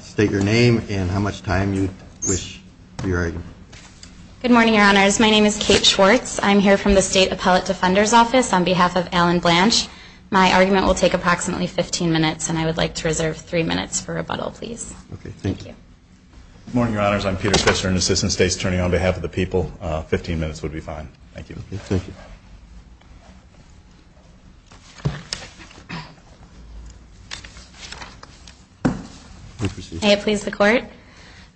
State your name and how much time you wish for your argument. Good morning, Your Honors. My name is Kate Schwartz. I'm here from the State Appellate Defender's Office on behalf of Alan Blanch. My argument will take approximately 15 minutes, and I would like to reserve 3 minutes for rebuttal, please. Good morning, Your Honors. I'm Peter Spitzer, and Assistant State's Attorney on behalf of the people. Fifteen minutes would be fine. Thank you. May it please the Court?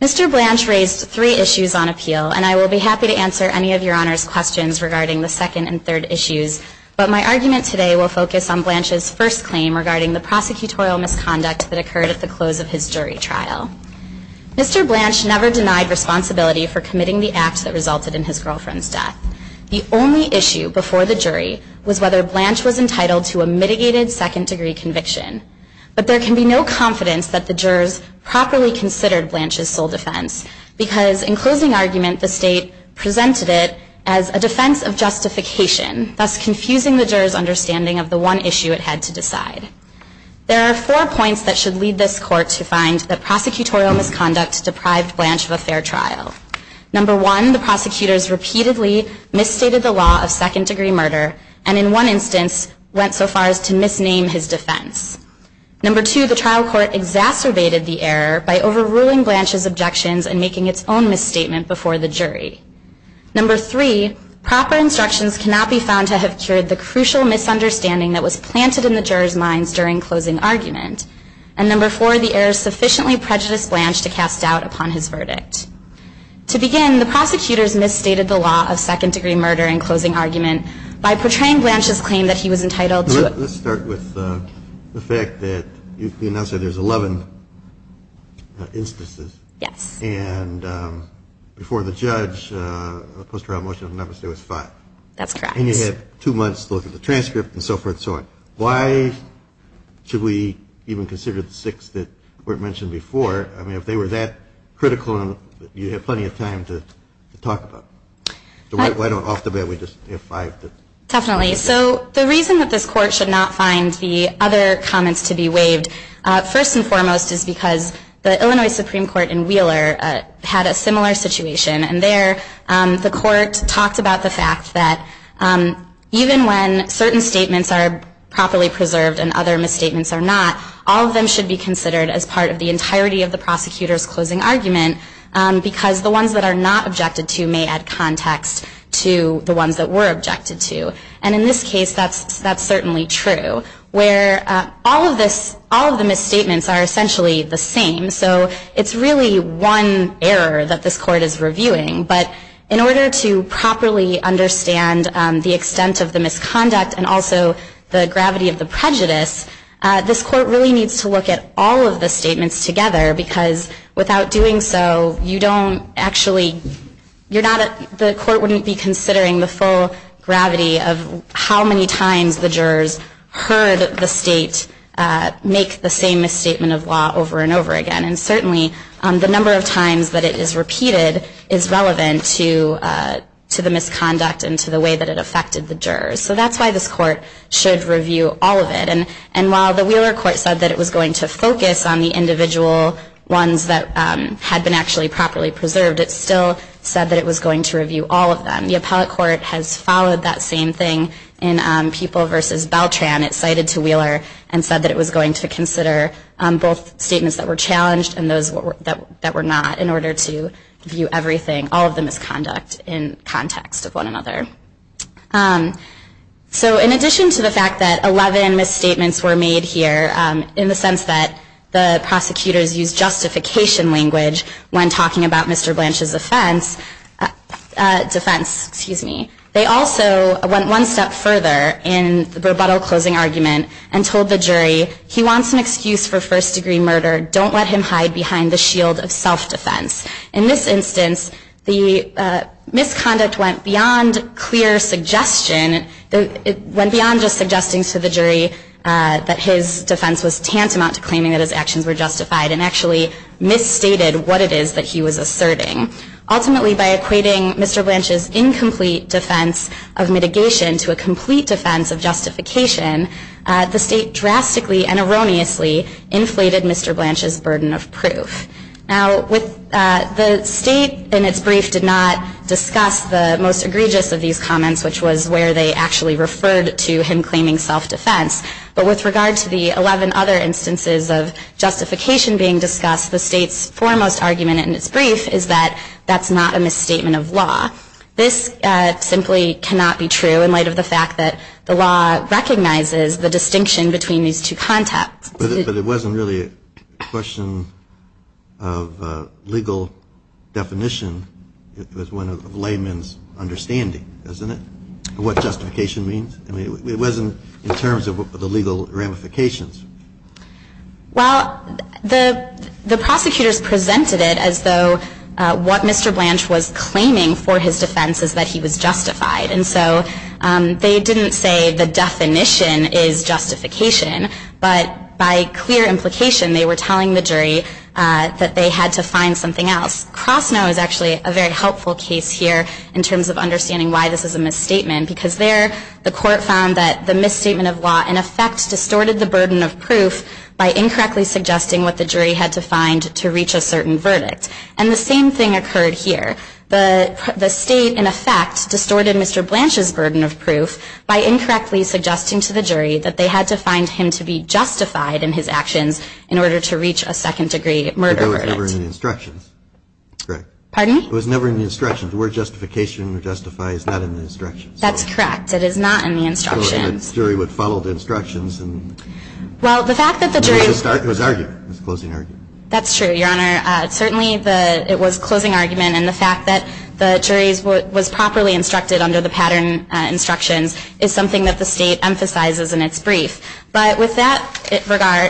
Mr. Blanch raised three issues on appeal, and I will be happy to answer any of Your Honors' questions regarding the second and third issues, but my argument today will focus on Blanch's first claim regarding the prosecutorial misconduct that occurred at the close of his jury trial. Mr. Blanch never denied responsibility for committing the act that resulted in his girlfriend's death. The only issue before the jury was whether Blanch was entitled to a mitigated second-degree conviction, but there can be no confidence that the jurors properly considered Blanch's sole defense because, in closing argument, the State presented it as a defense of justification, thus confusing the jurors' understanding of the one issue it had to decide. There are four points that should lead this Court to find that prosecutorial misconduct deprived Blanch of a fair trial. Number one, the prosecutors repeatedly misstated the law of second-degree murder and, in one instance, went so far as to misname his defense. Number two, the trial court exacerbated the error by overruling Blanch's objections and making its own misstatement before the jury. Number three, proper instructions cannot be found to have cured the crucial misunderstanding that was planted in the jurors' minds during closing argument. And number four, the errors sufficiently prejudiced Blanch to cast doubt upon his verdict. To begin, the prosecutors misstated the law of second-degree murder in closing argument by portraying Blanch's claim that he was entitled to a... Let's start with the fact that you announced that there's 11 instances. Yes. And before the judge, the post-trial motion of the Memphis State was five. That's correct. And you had two months to look at the transcript and so forth and so on. Why should we even consider the six that weren't mentioned before? I mean, if they were that critical, you'd have plenty of time to talk about them. So why don't, off the bat, we just have five? Definitely. So the reason that this Court should not find the other comments to be waived, first and foremost, is because the Illinois Supreme Court in Wheeler had a similar situation. And there, the Court talked about the fact that even when certain statements are properly preserved and other misstatements are not, all of them should be considered as part of the entirety of the prosecutor's closing argument because the ones that are not objected to may add context to the ones that were objected to. And in this case, that's certainly true, where all of the misstatements are essentially the same. So it's really one error that this Court is reviewing. But in order to properly understand the extent of the misconduct and also the gravity of the prejudice, this Court really needs to look at all of the statements together because without doing so, you don't actually, the Court wouldn't be considering the full gravity of how many times the jurors heard the State make the same misstatement of law over and over again. And certainly, the number of times that it is repeated is relevant to the misconduct and to the way that it affected the jurors. So that's why this Court should review all of it. And while the Wheeler Court said that it was going to focus on the individual ones that had been actually properly preserved, it still said that it was going to review all of them. The Appellate Court has followed that same thing in People v. Beltran. It cited to Wheeler and said that it was going to consider both statements that were challenged and those that were not in order to view everything, all of the misconduct, in context of one another. So in addition to the fact that 11 misstatements were made here, in the sense that the prosecutors used justification language when talking about Mr. Blanche's defense, they also went one step further in the rebuttal closing argument and told the jury, he wants an excuse for first-degree murder. Don't let him hide behind the shield of self-defense. In this instance, the misconduct went beyond just suggesting to the jury that his defense was tantamount to claiming that his actions were justified and actually misstated what it is that he was asserting. Ultimately, by equating Mr. Blanche's incomplete defense of mitigation to a complete defense of justification, the state drastically and erroneously inflated Mr. Blanche's burden of proof. Now, the state in its brief did not discuss the most egregious of these comments, which was where they actually referred to him claiming self-defense. But with regard to the 11 other instances of justification being discussed, the state's foremost argument in its brief is that that's not a misstatement of law. This simply cannot be true in light of the fact that the law recognizes the distinction between these two contexts. But it wasn't really a question of legal definition. It was one of layman's understanding, isn't it, of what justification means? I mean, it wasn't in terms of the legal ramifications. Well, the prosecutors presented it as though what Mr. Blanche was claiming for his defense is that he was justified. And so they didn't say the definition is justification, but by clear implication they were telling the jury that they had to find something else. Krosnow is actually a very helpful case here in terms of understanding why this is a misstatement, because there the court found that the misstatement of law in effect distorted the burden of proof by incorrectly suggesting what the jury had to find to reach a certain verdict. And the same thing occurred here. The state, in effect, distorted Mr. Blanche's burden of proof by incorrectly suggesting to the jury that they had to find him to be justified in his actions in order to reach a second-degree murder verdict. It was never in the instructions. Pardon? It was never in the instructions. The word justification or justify is not in the instructions. That's correct. It is not in the instructions. The jury would follow the instructions. Well, the fact that the jury- It was an argument. It was a closing argument. That's true, Your Honor. Certainly it was a closing argument, and the fact that the jury was properly instructed under the pattern instructions is something that the state emphasizes in its brief. But with regard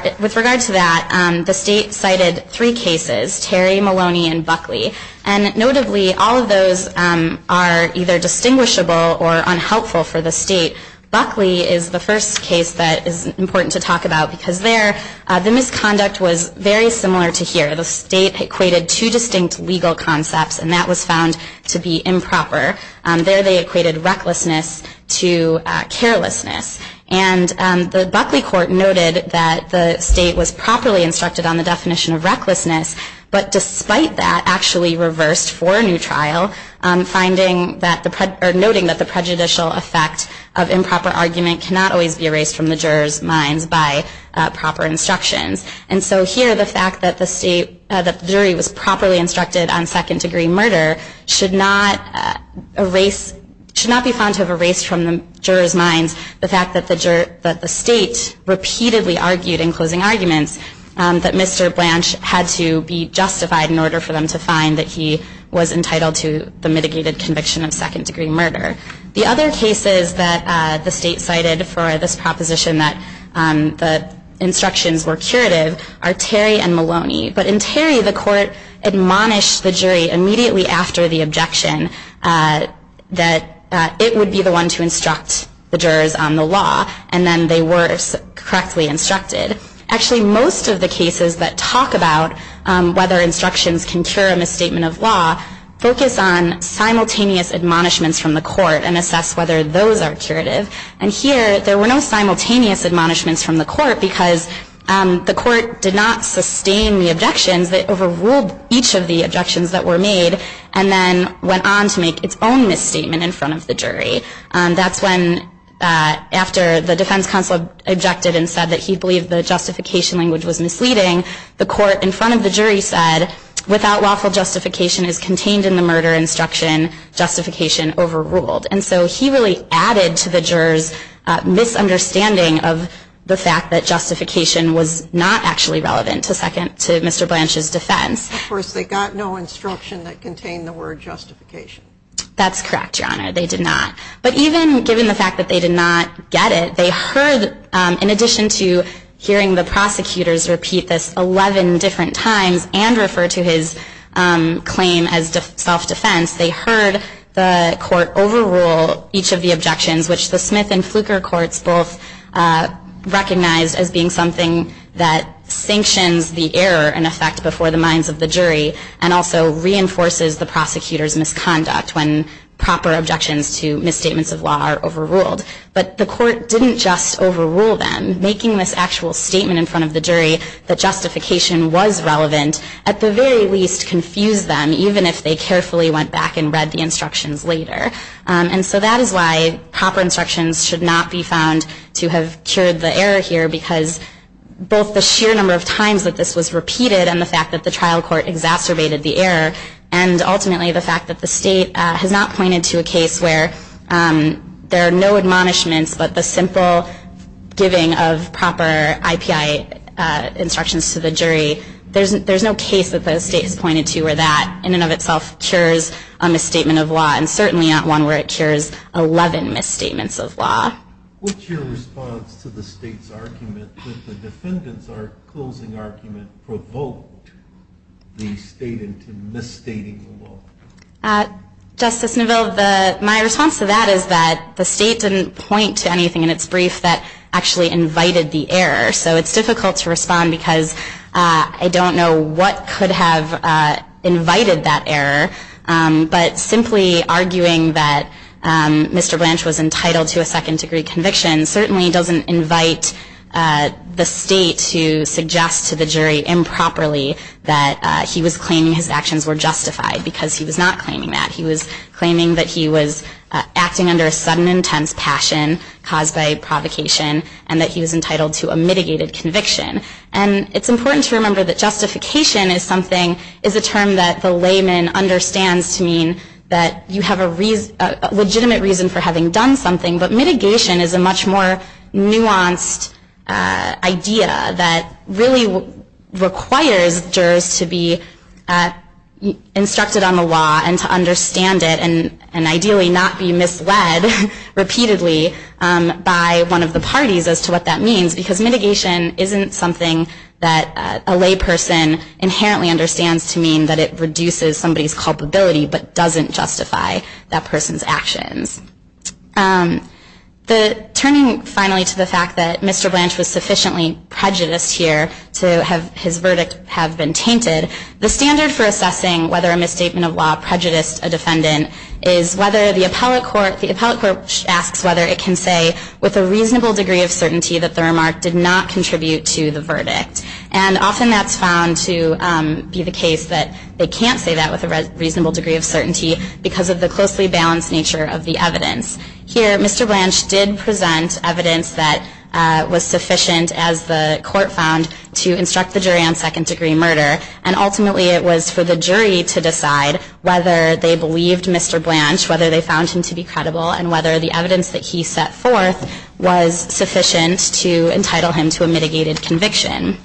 to that, the state cited three cases, Terry, Maloney, and Buckley. And notably, all of those are either distinguishable or unhelpful for the state. Buckley is the first case that is important to talk about, because there the misconduct was very similar to here. The state equated two distinct legal concepts, and that was found to be improper. There they equated recklessness to carelessness. And the Buckley court noted that the state was properly instructed on the definition of recklessness, but despite that actually reversed for a new trial, noting that the prejudicial effect of improper argument cannot always be erased from the jurors' minds by proper instructions. And so here, the fact that the jury was properly instructed on second-degree murder should not be found to have erased from the jurors' minds the fact that the state repeatedly argued in closing arguments that Mr. Blanche had to be justified in order for them to find that he was entitled to the mitigated conviction of second-degree murder. The other cases that the state cited for this proposition that the instructions were curative are Terry and Maloney. But in Terry, the court admonished the jury immediately after the objection that it would be the one to instruct the jurors on the law, and then they were correctly instructed. Actually, most of the cases that talk about whether instructions can cure a misstatement of law focus on simultaneous admonishments from the court and assess whether those are curative. And here, there were no simultaneous admonishments from the court because the court did not sustain the objections. It overruled each of the objections that were made and then went on to make its own misstatement in front of the jury. That's when, after the defense counsel objected and said that he believed the justification language was misleading, the court in front of the jury said, without lawful justification as contained in the murder instruction, justification overruled. And so he really added to the jurors' misunderstanding of the fact that justification was not actually relevant to Mr. Blanche's defense. Of course, they got no instruction that contained the word justification. That's correct, Your Honor. They did not. But even given the fact that they did not get it, they heard, in addition to hearing the prosecutors repeat this 11 different times and refer to his claim as self-defense, they heard the court overrule each of the objections, which the Smith and Fluker courts both recognized as being something that sanctions the error and effect before the minds of the jury and also reinforces the prosecutor's misconduct when proper objections to misstatements of law are overruled. But the court didn't just overrule them. Making this actual statement in front of the jury that justification was relevant at the very least confused them, even if they carefully went back and read the instructions later. And so that is why proper instructions should not be found to have cured the error here, because both the sheer number of times that this was repeated and the fact that the trial court exacerbated the error and ultimately the fact that the state has not pointed to a case where there are no admonishments but the simple giving of proper IPI instructions to the jury, there's no case that the state has pointed to where that in and of itself cures a misstatement of law and certainly not one where it cures 11 misstatements of law. What's your response to the state's argument that the defendant's closing argument provoked the state into misstating the law? Justice Neville, my response to that is that the state didn't point to anything in its brief that actually invited the error. So it's difficult to respond because I don't know what could have invited that error, but simply arguing that Mr. Branch was entitled to a second degree conviction certainly doesn't invite the state to suggest to the jury improperly that he was claiming his actions were justified, because he was not claiming that. He was claiming that he was acting under a sudden intense passion caused by provocation and that he was entitled to a mitigated conviction. And it's important to remember that justification is a term that the layman understands to mean that you have a legitimate reason for having done something, but mitigation is a much more nuanced idea that really requires jurors to be instructed on the law and to understand it and ideally not be misled repeatedly by one of the parties as to what that means, because mitigation isn't something that a layperson inherently understands to mean that it reduces somebody's culpability but doesn't justify that person's actions. Turning finally to the fact that Mr. Branch was sufficiently prejudiced here to have his verdict have been tainted, the standard for assessing whether a misstatement of law prejudiced a defendant is whether the appellate court asks whether it can say with a reasonable degree of certainty that the remark did not contribute to the verdict. And often that's found to be the case that they can't say that with a reasonable degree of certainty because of the closely balanced nature of the evidence. Here, Mr. Branch did present evidence that was sufficient, as the court found, to instruct the jury on second-degree murder. And ultimately it was for the jury to decide whether they believed Mr. Branch, whether they found him to be credible, and whether the evidence that he set forth was sufficient to entitle him to a mitigated conviction.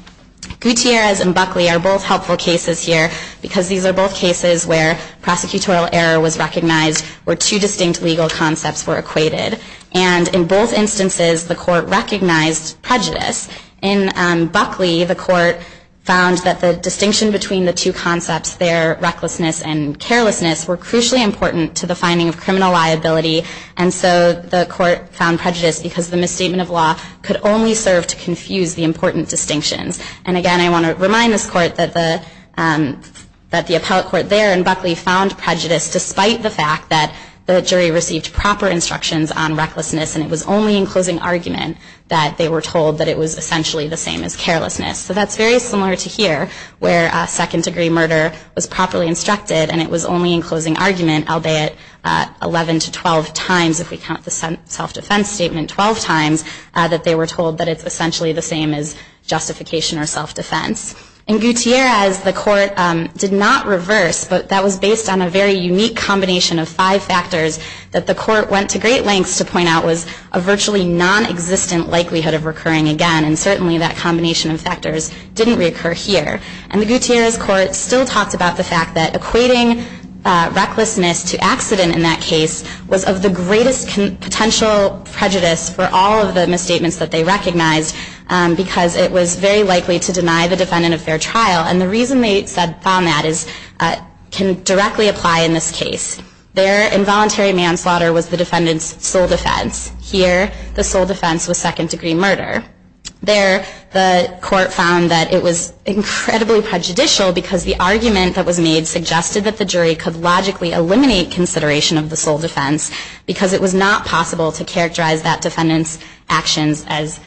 Gutierrez and Buckley are both helpful cases here because these are both cases where prosecutorial error was recognized or two distinct legal concepts were equated. And in both instances, the court recognized prejudice. In Buckley, the court found that the distinction between the two concepts, their recklessness and carelessness, were crucially important to the finding of criminal liability. And so the court found prejudice because the misstatement of law could only serve to confuse the important distinctions. And again, I want to remind this court that the appellate court there in Buckley found prejudice despite the fact that the jury received proper instructions on recklessness and it was only in closing argument that they were told that it was essentially the same as carelessness. So that's very similar to here where second degree murder was properly instructed and it was only in closing argument, albeit 11 to 12 times if we count the self-defense statement, 12 times, that they were told that it's essentially the same as justification or self-defense. In Gutierrez, the court did not reverse, but that was based on a very unique combination of five factors that the court went to great lengths to point out was a virtually nonexistent likelihood of recurring again. And certainly that combination of factors didn't recur here. And the Gutierrez court still talks about the fact that equating recklessness to accident in that case was of the greatest potential prejudice for all of the misstatements that they recognized because it was very likely to deny the defendant a fair trial. And the reason they found that can directly apply in this case. Their involuntary manslaughter was the defendant's sole defense. Here, the sole defense was second degree murder. There, the court found that it was incredibly prejudicial because the argument that was made suggested that the jury could logically eliminate consideration of the sole defense because it was not possible to characterize that defendant's actions as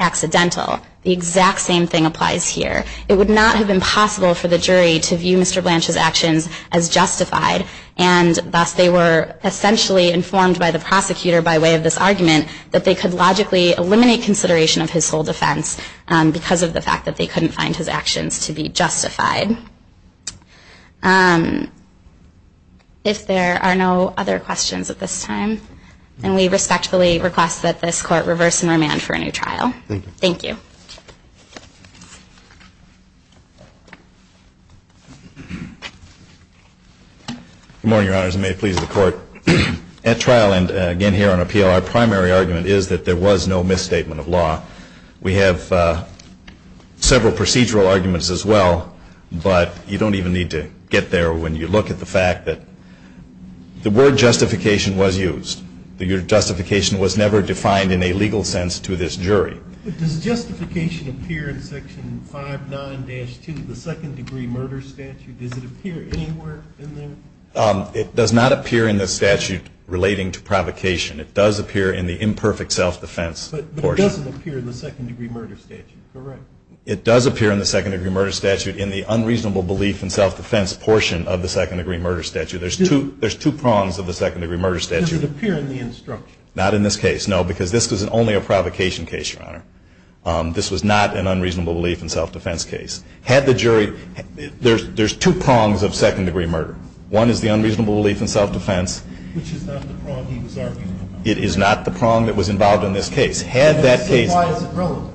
accidental. The exact same thing applies here. It would not have been possible for the jury to view Mr. Blanche's actions as justified and thus they were essentially informed by the prosecutor by way of this argument that they could logically eliminate consideration of his sole defense because of the fact that they couldn't find his actions to be justified. If there are no other questions at this time, then we respectfully request that this court reverse and remand for a new trial. Thank you. Thank you. Good morning, Your Honors, and may it please the Court. At trial and again here on appeal, our primary argument is that there was no misstatement of law. We have several procedural arguments as well, but you don't even need to get there when you look at the fact that the word justification was used. The word justification was never defined in a legal sense to this jury. Does justification appear in Section 59-2 of the Second Degree Murder Statute? Does it appear anywhere in there? It does not appear in the statute relating to provocation. It does appear in the imperfect self-defense portion. But it doesn't appear in the Second Degree Murder Statute, correct? It does appear in the Second Degree Murder Statute in the unreasonable belief in self-defense portion of the Second Degree Murder Statute. There's two prongs of the Second Degree Murder Statute. Does it appear in the instruction? Not in this case, no, because this was only a provocation case, Your Honor. This was not an unreasonable belief in self-defense case. Had the jury – there's two prongs of Second Degree Murder. One is the unreasonable belief in self-defense. Which is not the prong he was arguing about. It is not the prong that was involved in this case. Had that case – Why is it relevant?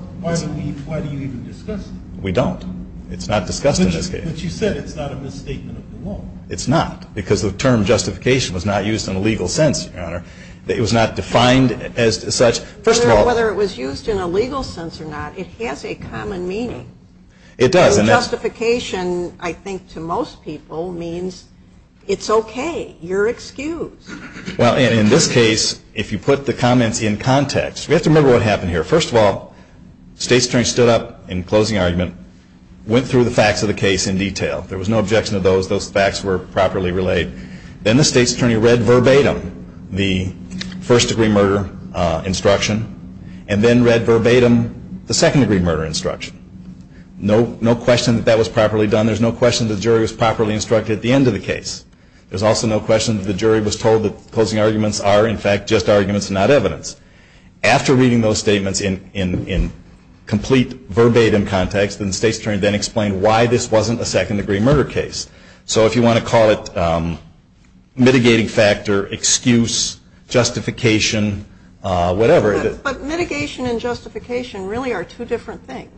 Why do you even discuss it? We don't. It's not discussed in this case. But you said it's not a misstatement of the law. It's not, because the term justification was not used in a legal sense, Your Honor. It was not defined as such. Whether it was used in a legal sense or not, it has a common meaning. It does. And justification, I think to most people, means it's okay. You're excused. Well, and in this case, if you put the comments in context, we have to remember what happened here. First of all, the State's Attorney stood up in closing argument, went through the facts of the case in detail. There was no objection to those. Those facts were properly relayed. Then the State's Attorney read verbatim the first-degree murder instruction and then read verbatim the second-degree murder instruction. No question that that was properly done. There's no question that the jury was properly instructed at the end of the case. There's also no question that the jury was told that closing arguments are, in fact, just arguments and not evidence. After reading those statements in complete verbatim context, the State's Attorney then explained why this wasn't a second-degree murder case. So if you want to call it mitigating factor, excuse, justification, whatever. But mitigation and justification really are two different things.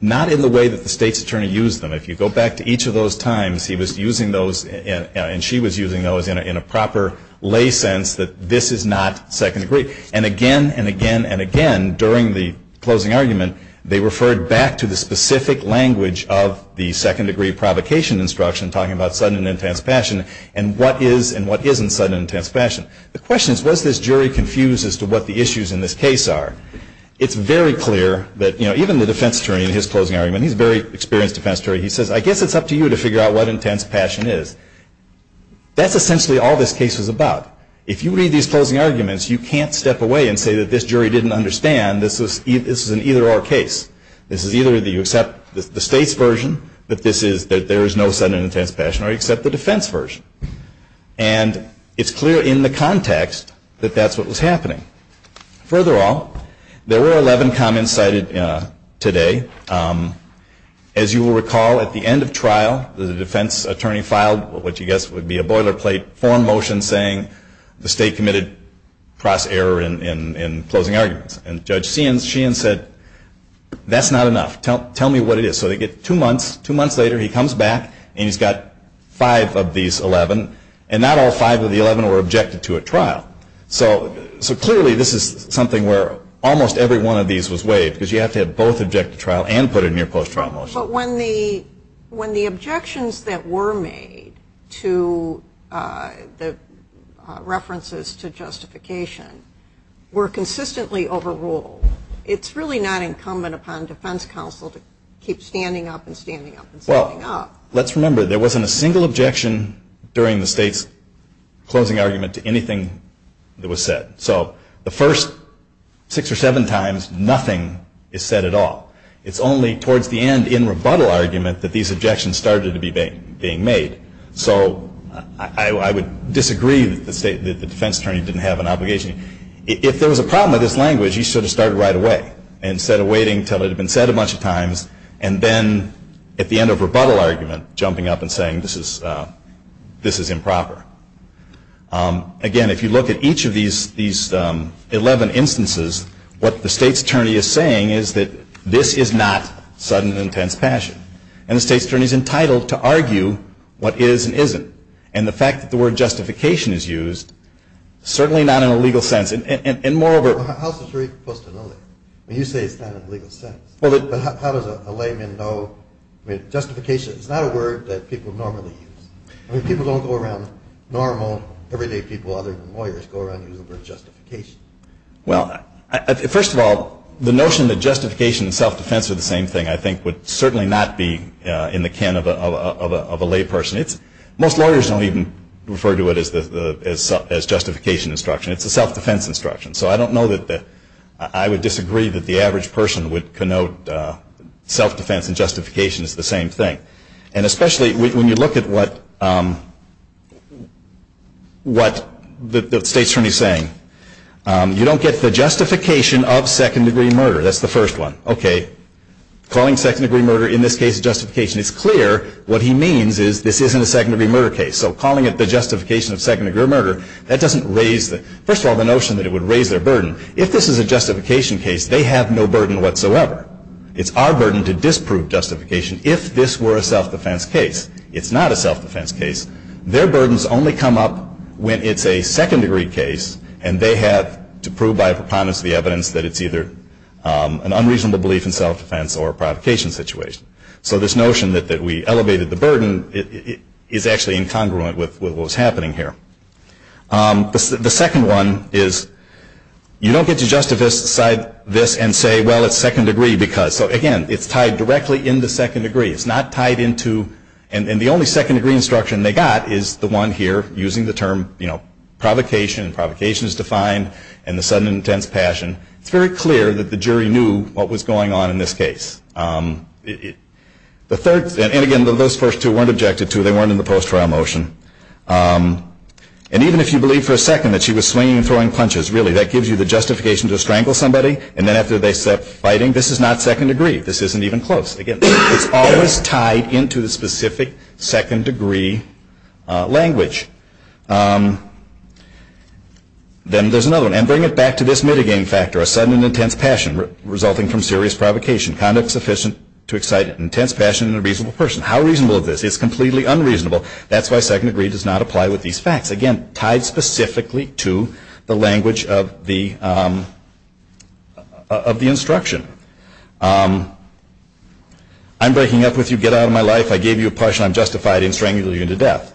Not in the way that the State's Attorney used them. If you go back to each of those times, he was using those and she was using those in a proper lay sense that this is not second-degree. And again and again and again during the closing argument, they referred back to the specific language of the second-degree provocation instruction talking about sudden and intense passion and what is and what isn't sudden and intense passion. The question is, was this jury confused as to what the issues in this case are? It's very clear that, you know, even the defense attorney in his closing argument, he's a very experienced defense attorney, he says, I guess it's up to you to figure out what intense passion is. That's essentially all this case was about. If you read these closing arguments, you can't step away and say that this jury didn't understand this was an either-or case. This is either that you accept the State's version, that there is no sudden and intense passion, or you accept the defense version. And it's clear in the context that that's what was happening. Furthermore, there were 11 comments cited today. As you will recall, at the end of trial, the defense attorney filed what you guess would be a boilerplate form motion saying the State committed cross-error in closing arguments. And Judge Sheehan said, that's not enough. Tell me what it is. So they get two months, two months later he comes back and he's got five of these 11, and not all five of the 11 were objected to at trial. So clearly this is something where almost every one of these was waived, because you have to have both object to trial and put it in your post-trial motion. But when the objections that were made to the references to justification were consistently overruled, it's really not incumbent upon defense counsel to keep standing up and standing up and standing up. Well, let's remember there wasn't a single objection during the State's closing argument to anything that was said. So the first six or seven times, nothing is said at all. It's only towards the end in rebuttal argument that these objections started to be made. So I would disagree that the defense attorney didn't have an obligation. If there was a problem with his language, he should have started right away instead of waiting until it had been said a bunch of times, and then at the end of rebuttal argument jumping up and saying this is improper. Again, if you look at each of these 11 instances, what the State's attorney is saying is that this is not sudden and intense passion. And the State's attorney is entitled to argue what is and isn't. And the fact that the word justification is used, certainly not in a legal sense, and moreover- Well, how's the jury supposed to know that? I mean, you say it's not in a legal sense. But how does a layman know? I mean, justification is not a word that people normally use. I mean, people don't go around, normal everyday people other than lawyers, go around and use the word justification. Well, first of all, the notion that justification and self-defense are the same thing, I think would certainly not be in the can of a layperson. Most lawyers don't even refer to it as justification instruction. It's a self-defense instruction. So I don't know that I would disagree that the average person would connote self-defense and justification as the same thing. And especially when you look at what the State's attorney is saying, you don't get the justification of second-degree murder. That's the first one. Okay, calling second-degree murder in this case justification, it's clear what he means is this isn't a second-degree murder case. So calling it the justification of second-degree murder, that doesn't raise the- first of all, the notion that it would raise their burden. If this is a justification case, they have no burden whatsoever. It's our burden to disprove justification if this were a self-defense case. It's not a self-defense case. Their burdens only come up when it's a second-degree case, and they have to prove by a preponderance of the evidence that it's either an unreasonable belief in self-defense or a provocation situation. So this notion that we elevated the burden is actually incongruent with what was happening here. The second one is you don't get to justify this and say, well, it's second-degree because. So, again, it's tied directly into second-degree. It's not tied into-and the only second-degree instruction they got is the one here, using the term, you know, provocation, and provocation is defined, and the sudden and intense passion. It's very clear that the jury knew what was going on in this case. The third-and, again, those first two weren't objected to. They weren't in the post-trial motion. And even if you believe for a second that she was swinging and throwing punches, really, that gives you the justification to strangle somebody, and then after they stop fighting, this is not second-degree. This isn't even close. Again, it's always tied into the specific second-degree language. Then there's another one. And bring it back to this mitigating factor, a sudden and intense passion resulting from serious provocation. Conduct sufficient to excite an intense passion in a reasonable person. How reasonable is this? It's completely unreasonable. That's why second-degree does not apply with these facts. Again, tied specifically to the language of the instruction. I'm breaking up with you. Get out of my life. I gave you a portion. I'm justified in strangling you to death.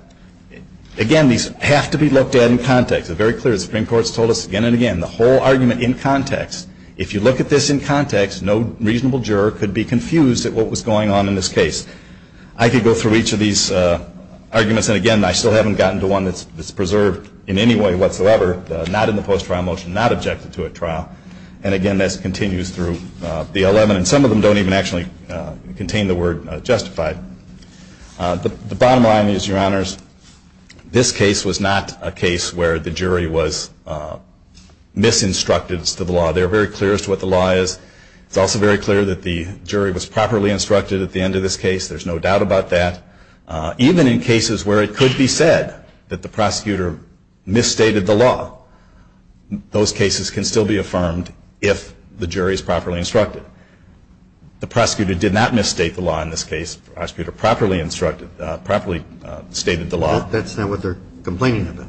Again, these have to be looked at in context. They're very clear. The Supreme Court's told us again and again, the whole argument in context. If you look at this in context, no reasonable juror could be confused at what was going on in this case. I could go through each of these arguments. And again, I still haven't gotten to one that's preserved in any way whatsoever, not in the post-trial motion, not objected to at trial. And again, this continues through the 11. And some of them don't even actually contain the word justified. The bottom line is, Your Honors, this case was not a case where the jury was misinstructed as to the law. They were very clear as to what the law is. It's also very clear that the jury was properly instructed at the end of this case. There's no doubt about that. Even in cases where it could be said that the prosecutor misstated the law, those cases can still be affirmed if the jury is properly instructed. The prosecutor did not misstate the law in this case. The prosecutor properly instructed, properly stated the law. That's not what they're complaining about.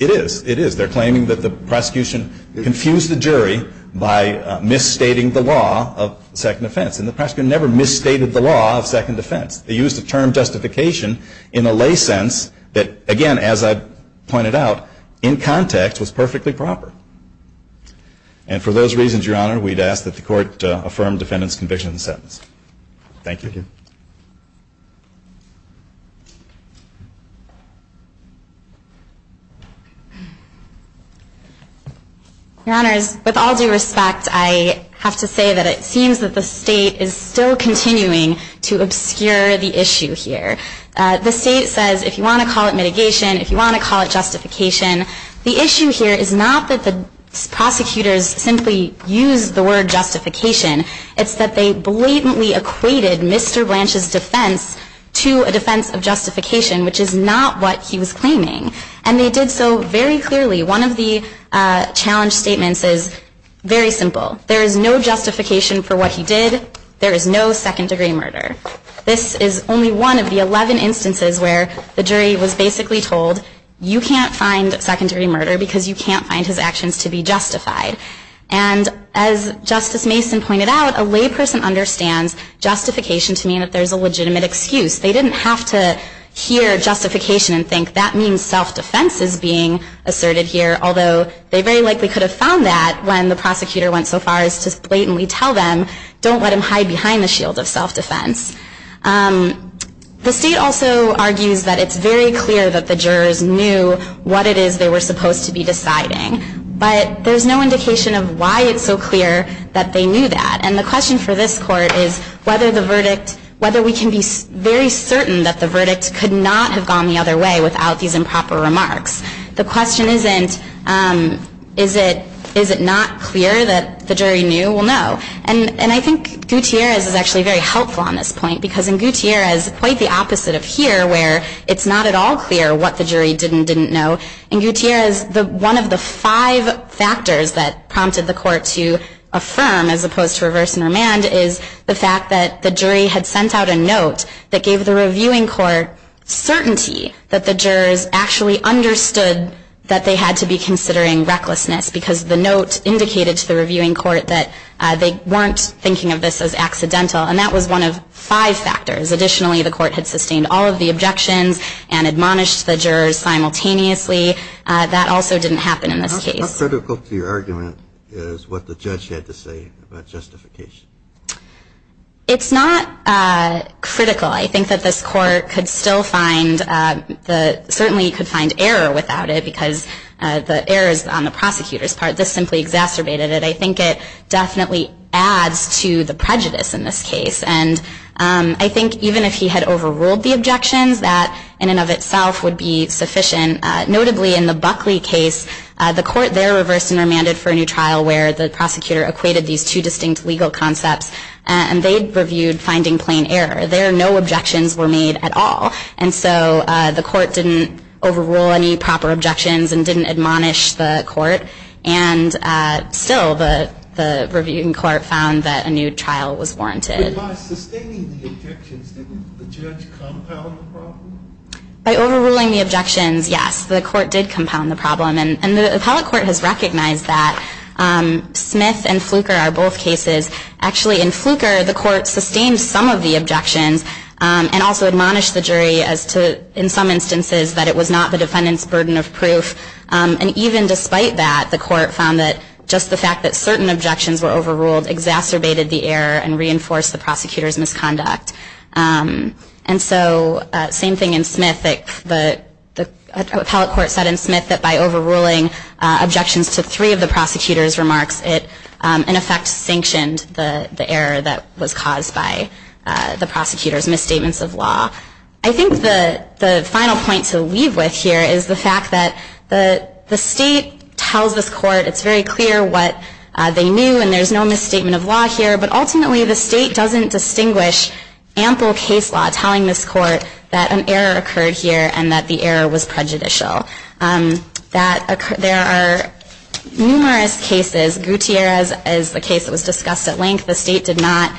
It is. It is. They're claiming that the prosecution confused the jury by misstating the law of second offense. And the prosecutor never misstated the law of second offense. They used the term justification in a lay sense that, again, as I pointed out, in context, was perfectly proper. And for those reasons, Your Honor, we'd ask that the Court affirm defendant's conviction in the sentence. Thank you. Your Honors, with all due respect, I have to say that it seems that the State is still continuing to obscure the issue here. The State says, if you want to call it mitigation, if you want to call it justification, the issue here is not that the prosecutors simply used the word justification. It's that they blatantly equated misstating the law of second offense with misstating the law of second offense. They equated Mr. Blanche's defense to a defense of justification, which is not what he was claiming. And they did so very clearly. One of the challenge statements is very simple. There is no justification for what he did. There is no second-degree murder. This is only one of the 11 instances where the jury was basically told, you can't find second-degree murder because you can't find his actions to be justified. And as Justice Mason pointed out, a layperson understands justification to mean that there's a legitimate excuse. They didn't have to hear justification and think that means self-defense is being asserted here, although they very likely could have found that when the prosecutor went so far as to blatantly tell them, don't let him hide behind the shield of self-defense. The State also argues that it's very clear that the jurors knew what it is they were supposed to be deciding. But there's no indication of why it's so clear that they knew that. And the question for this Court is whether we can be very certain that the verdict could not have gone the other way without these improper remarks. The question isn't, is it not clear that the jury knew? Well, no. And I think Gutierrez is actually very helpful on this point, because in Gutierrez, quite the opposite of here, where it's not at all clear what the jury didn't know. In Gutierrez, one of the five factors that prompted the Court to affirm as opposed to reverse and remand is the fact that the jury had sent out a note that gave the reviewing court certainty that the jurors actually understood that they had to be considering recklessness, because the note indicated to the reviewing court that they weren't thinking of this as accidental. And that was one of five factors. Additionally, the Court had sustained all of the objections and admonished the jurors simultaneously. That also didn't happen in this case. How critical to your argument is what the judge had to say about justification? It's not critical. I think that this Court could still find, certainly could find error without it, because the errors on the prosecutor's part, this simply exacerbated it. I think it definitely adds to the prejudice in this case. And I think even if he had overruled the objections, that in and of itself would be sufficient. Notably, in the Buckley case, the Court there reversed and remanded for a new trial where the prosecutor equated these two distinct legal concepts, and they reviewed finding plain error. There, no objections were made at all. And so the Court didn't overrule any proper objections and didn't admonish the Court. And still, the reviewing court found that a new trial was warranted. By sustaining the objections, didn't the judge compound the problem? By overruling the objections, yes, the Court did compound the problem. And the appellate court has recognized that. Smith and Fluker are both cases. Actually, in Fluker, the Court sustained some of the objections and also admonished the jury as to, in some instances, that it was not the defendant's burden of proof. And even despite that, the Court found that just the fact that certain objections were overruled exacerbated the error and reinforced the prosecutor's misconduct. And so, same thing in Smith. The appellate court said in Smith that by overruling objections to three of the prosecutor's remarks, it, in effect, sanctioned the error that was caused by the prosecutor's misstatements of law. I think the final point to leave with here is the fact that the State tells this Court it's very clear what they knew, and there's no misstatement of law here. But ultimately, the State doesn't distinguish ample case law telling this Court that an error occurred here and that the error was prejudicial. There are numerous cases. Gutierrez is a case that was discussed at length. The State did not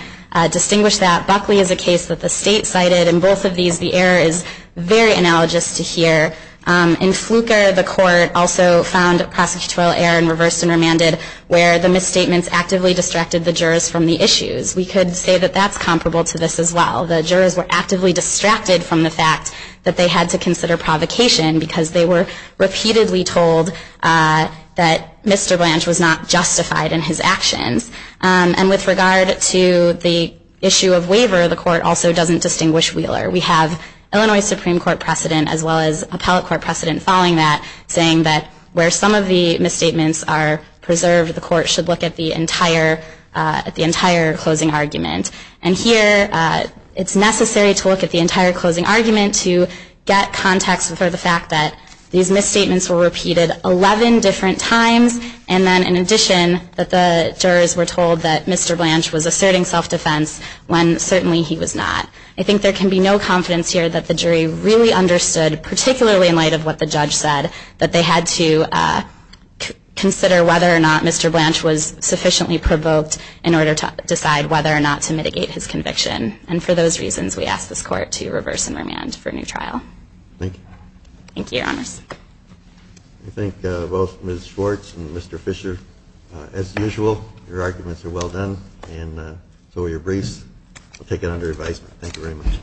distinguish that. Buckley is a case that the State cited. In both of these, the error is very analogous to here. In Fluker, the Court also found prosecutorial error and reversed and remanded where the misstatements actively distracted the jurors from the issues. We could say that that's comparable to this as well. The jurors were actively distracted from the fact that they had to consider provocation because they were repeatedly told that Mr. Blanche was not justified in his actions. And with regard to the issue of waiver, the Court also doesn't distinguish Wheeler. We have Illinois Supreme Court precedent as well as appellate court precedent following that saying that where some of the misstatements are preserved, the Court should look at the entire closing argument. And here, it's necessary to look at the entire closing argument to get context for the fact that these misstatements were repeated 11 different times and then in addition that the jurors were told that Mr. Blanche was asserting self-defense when certainly he was not. I think there can be no confidence here that the jury really understood, particularly in light of what the judge said, that they had to consider whether or not Mr. Blanche was sufficiently provoked in order to decide whether or not to mitigate his conviction. And for those reasons, we ask this Court to reverse and remand for a new trial. Thank you. Thank you, Your Honors. I thank both Ms. Schwartz and Mr. Fisher. As usual, your arguments are well done and so are your briefs. I'll take it under advisement. Thank you very much.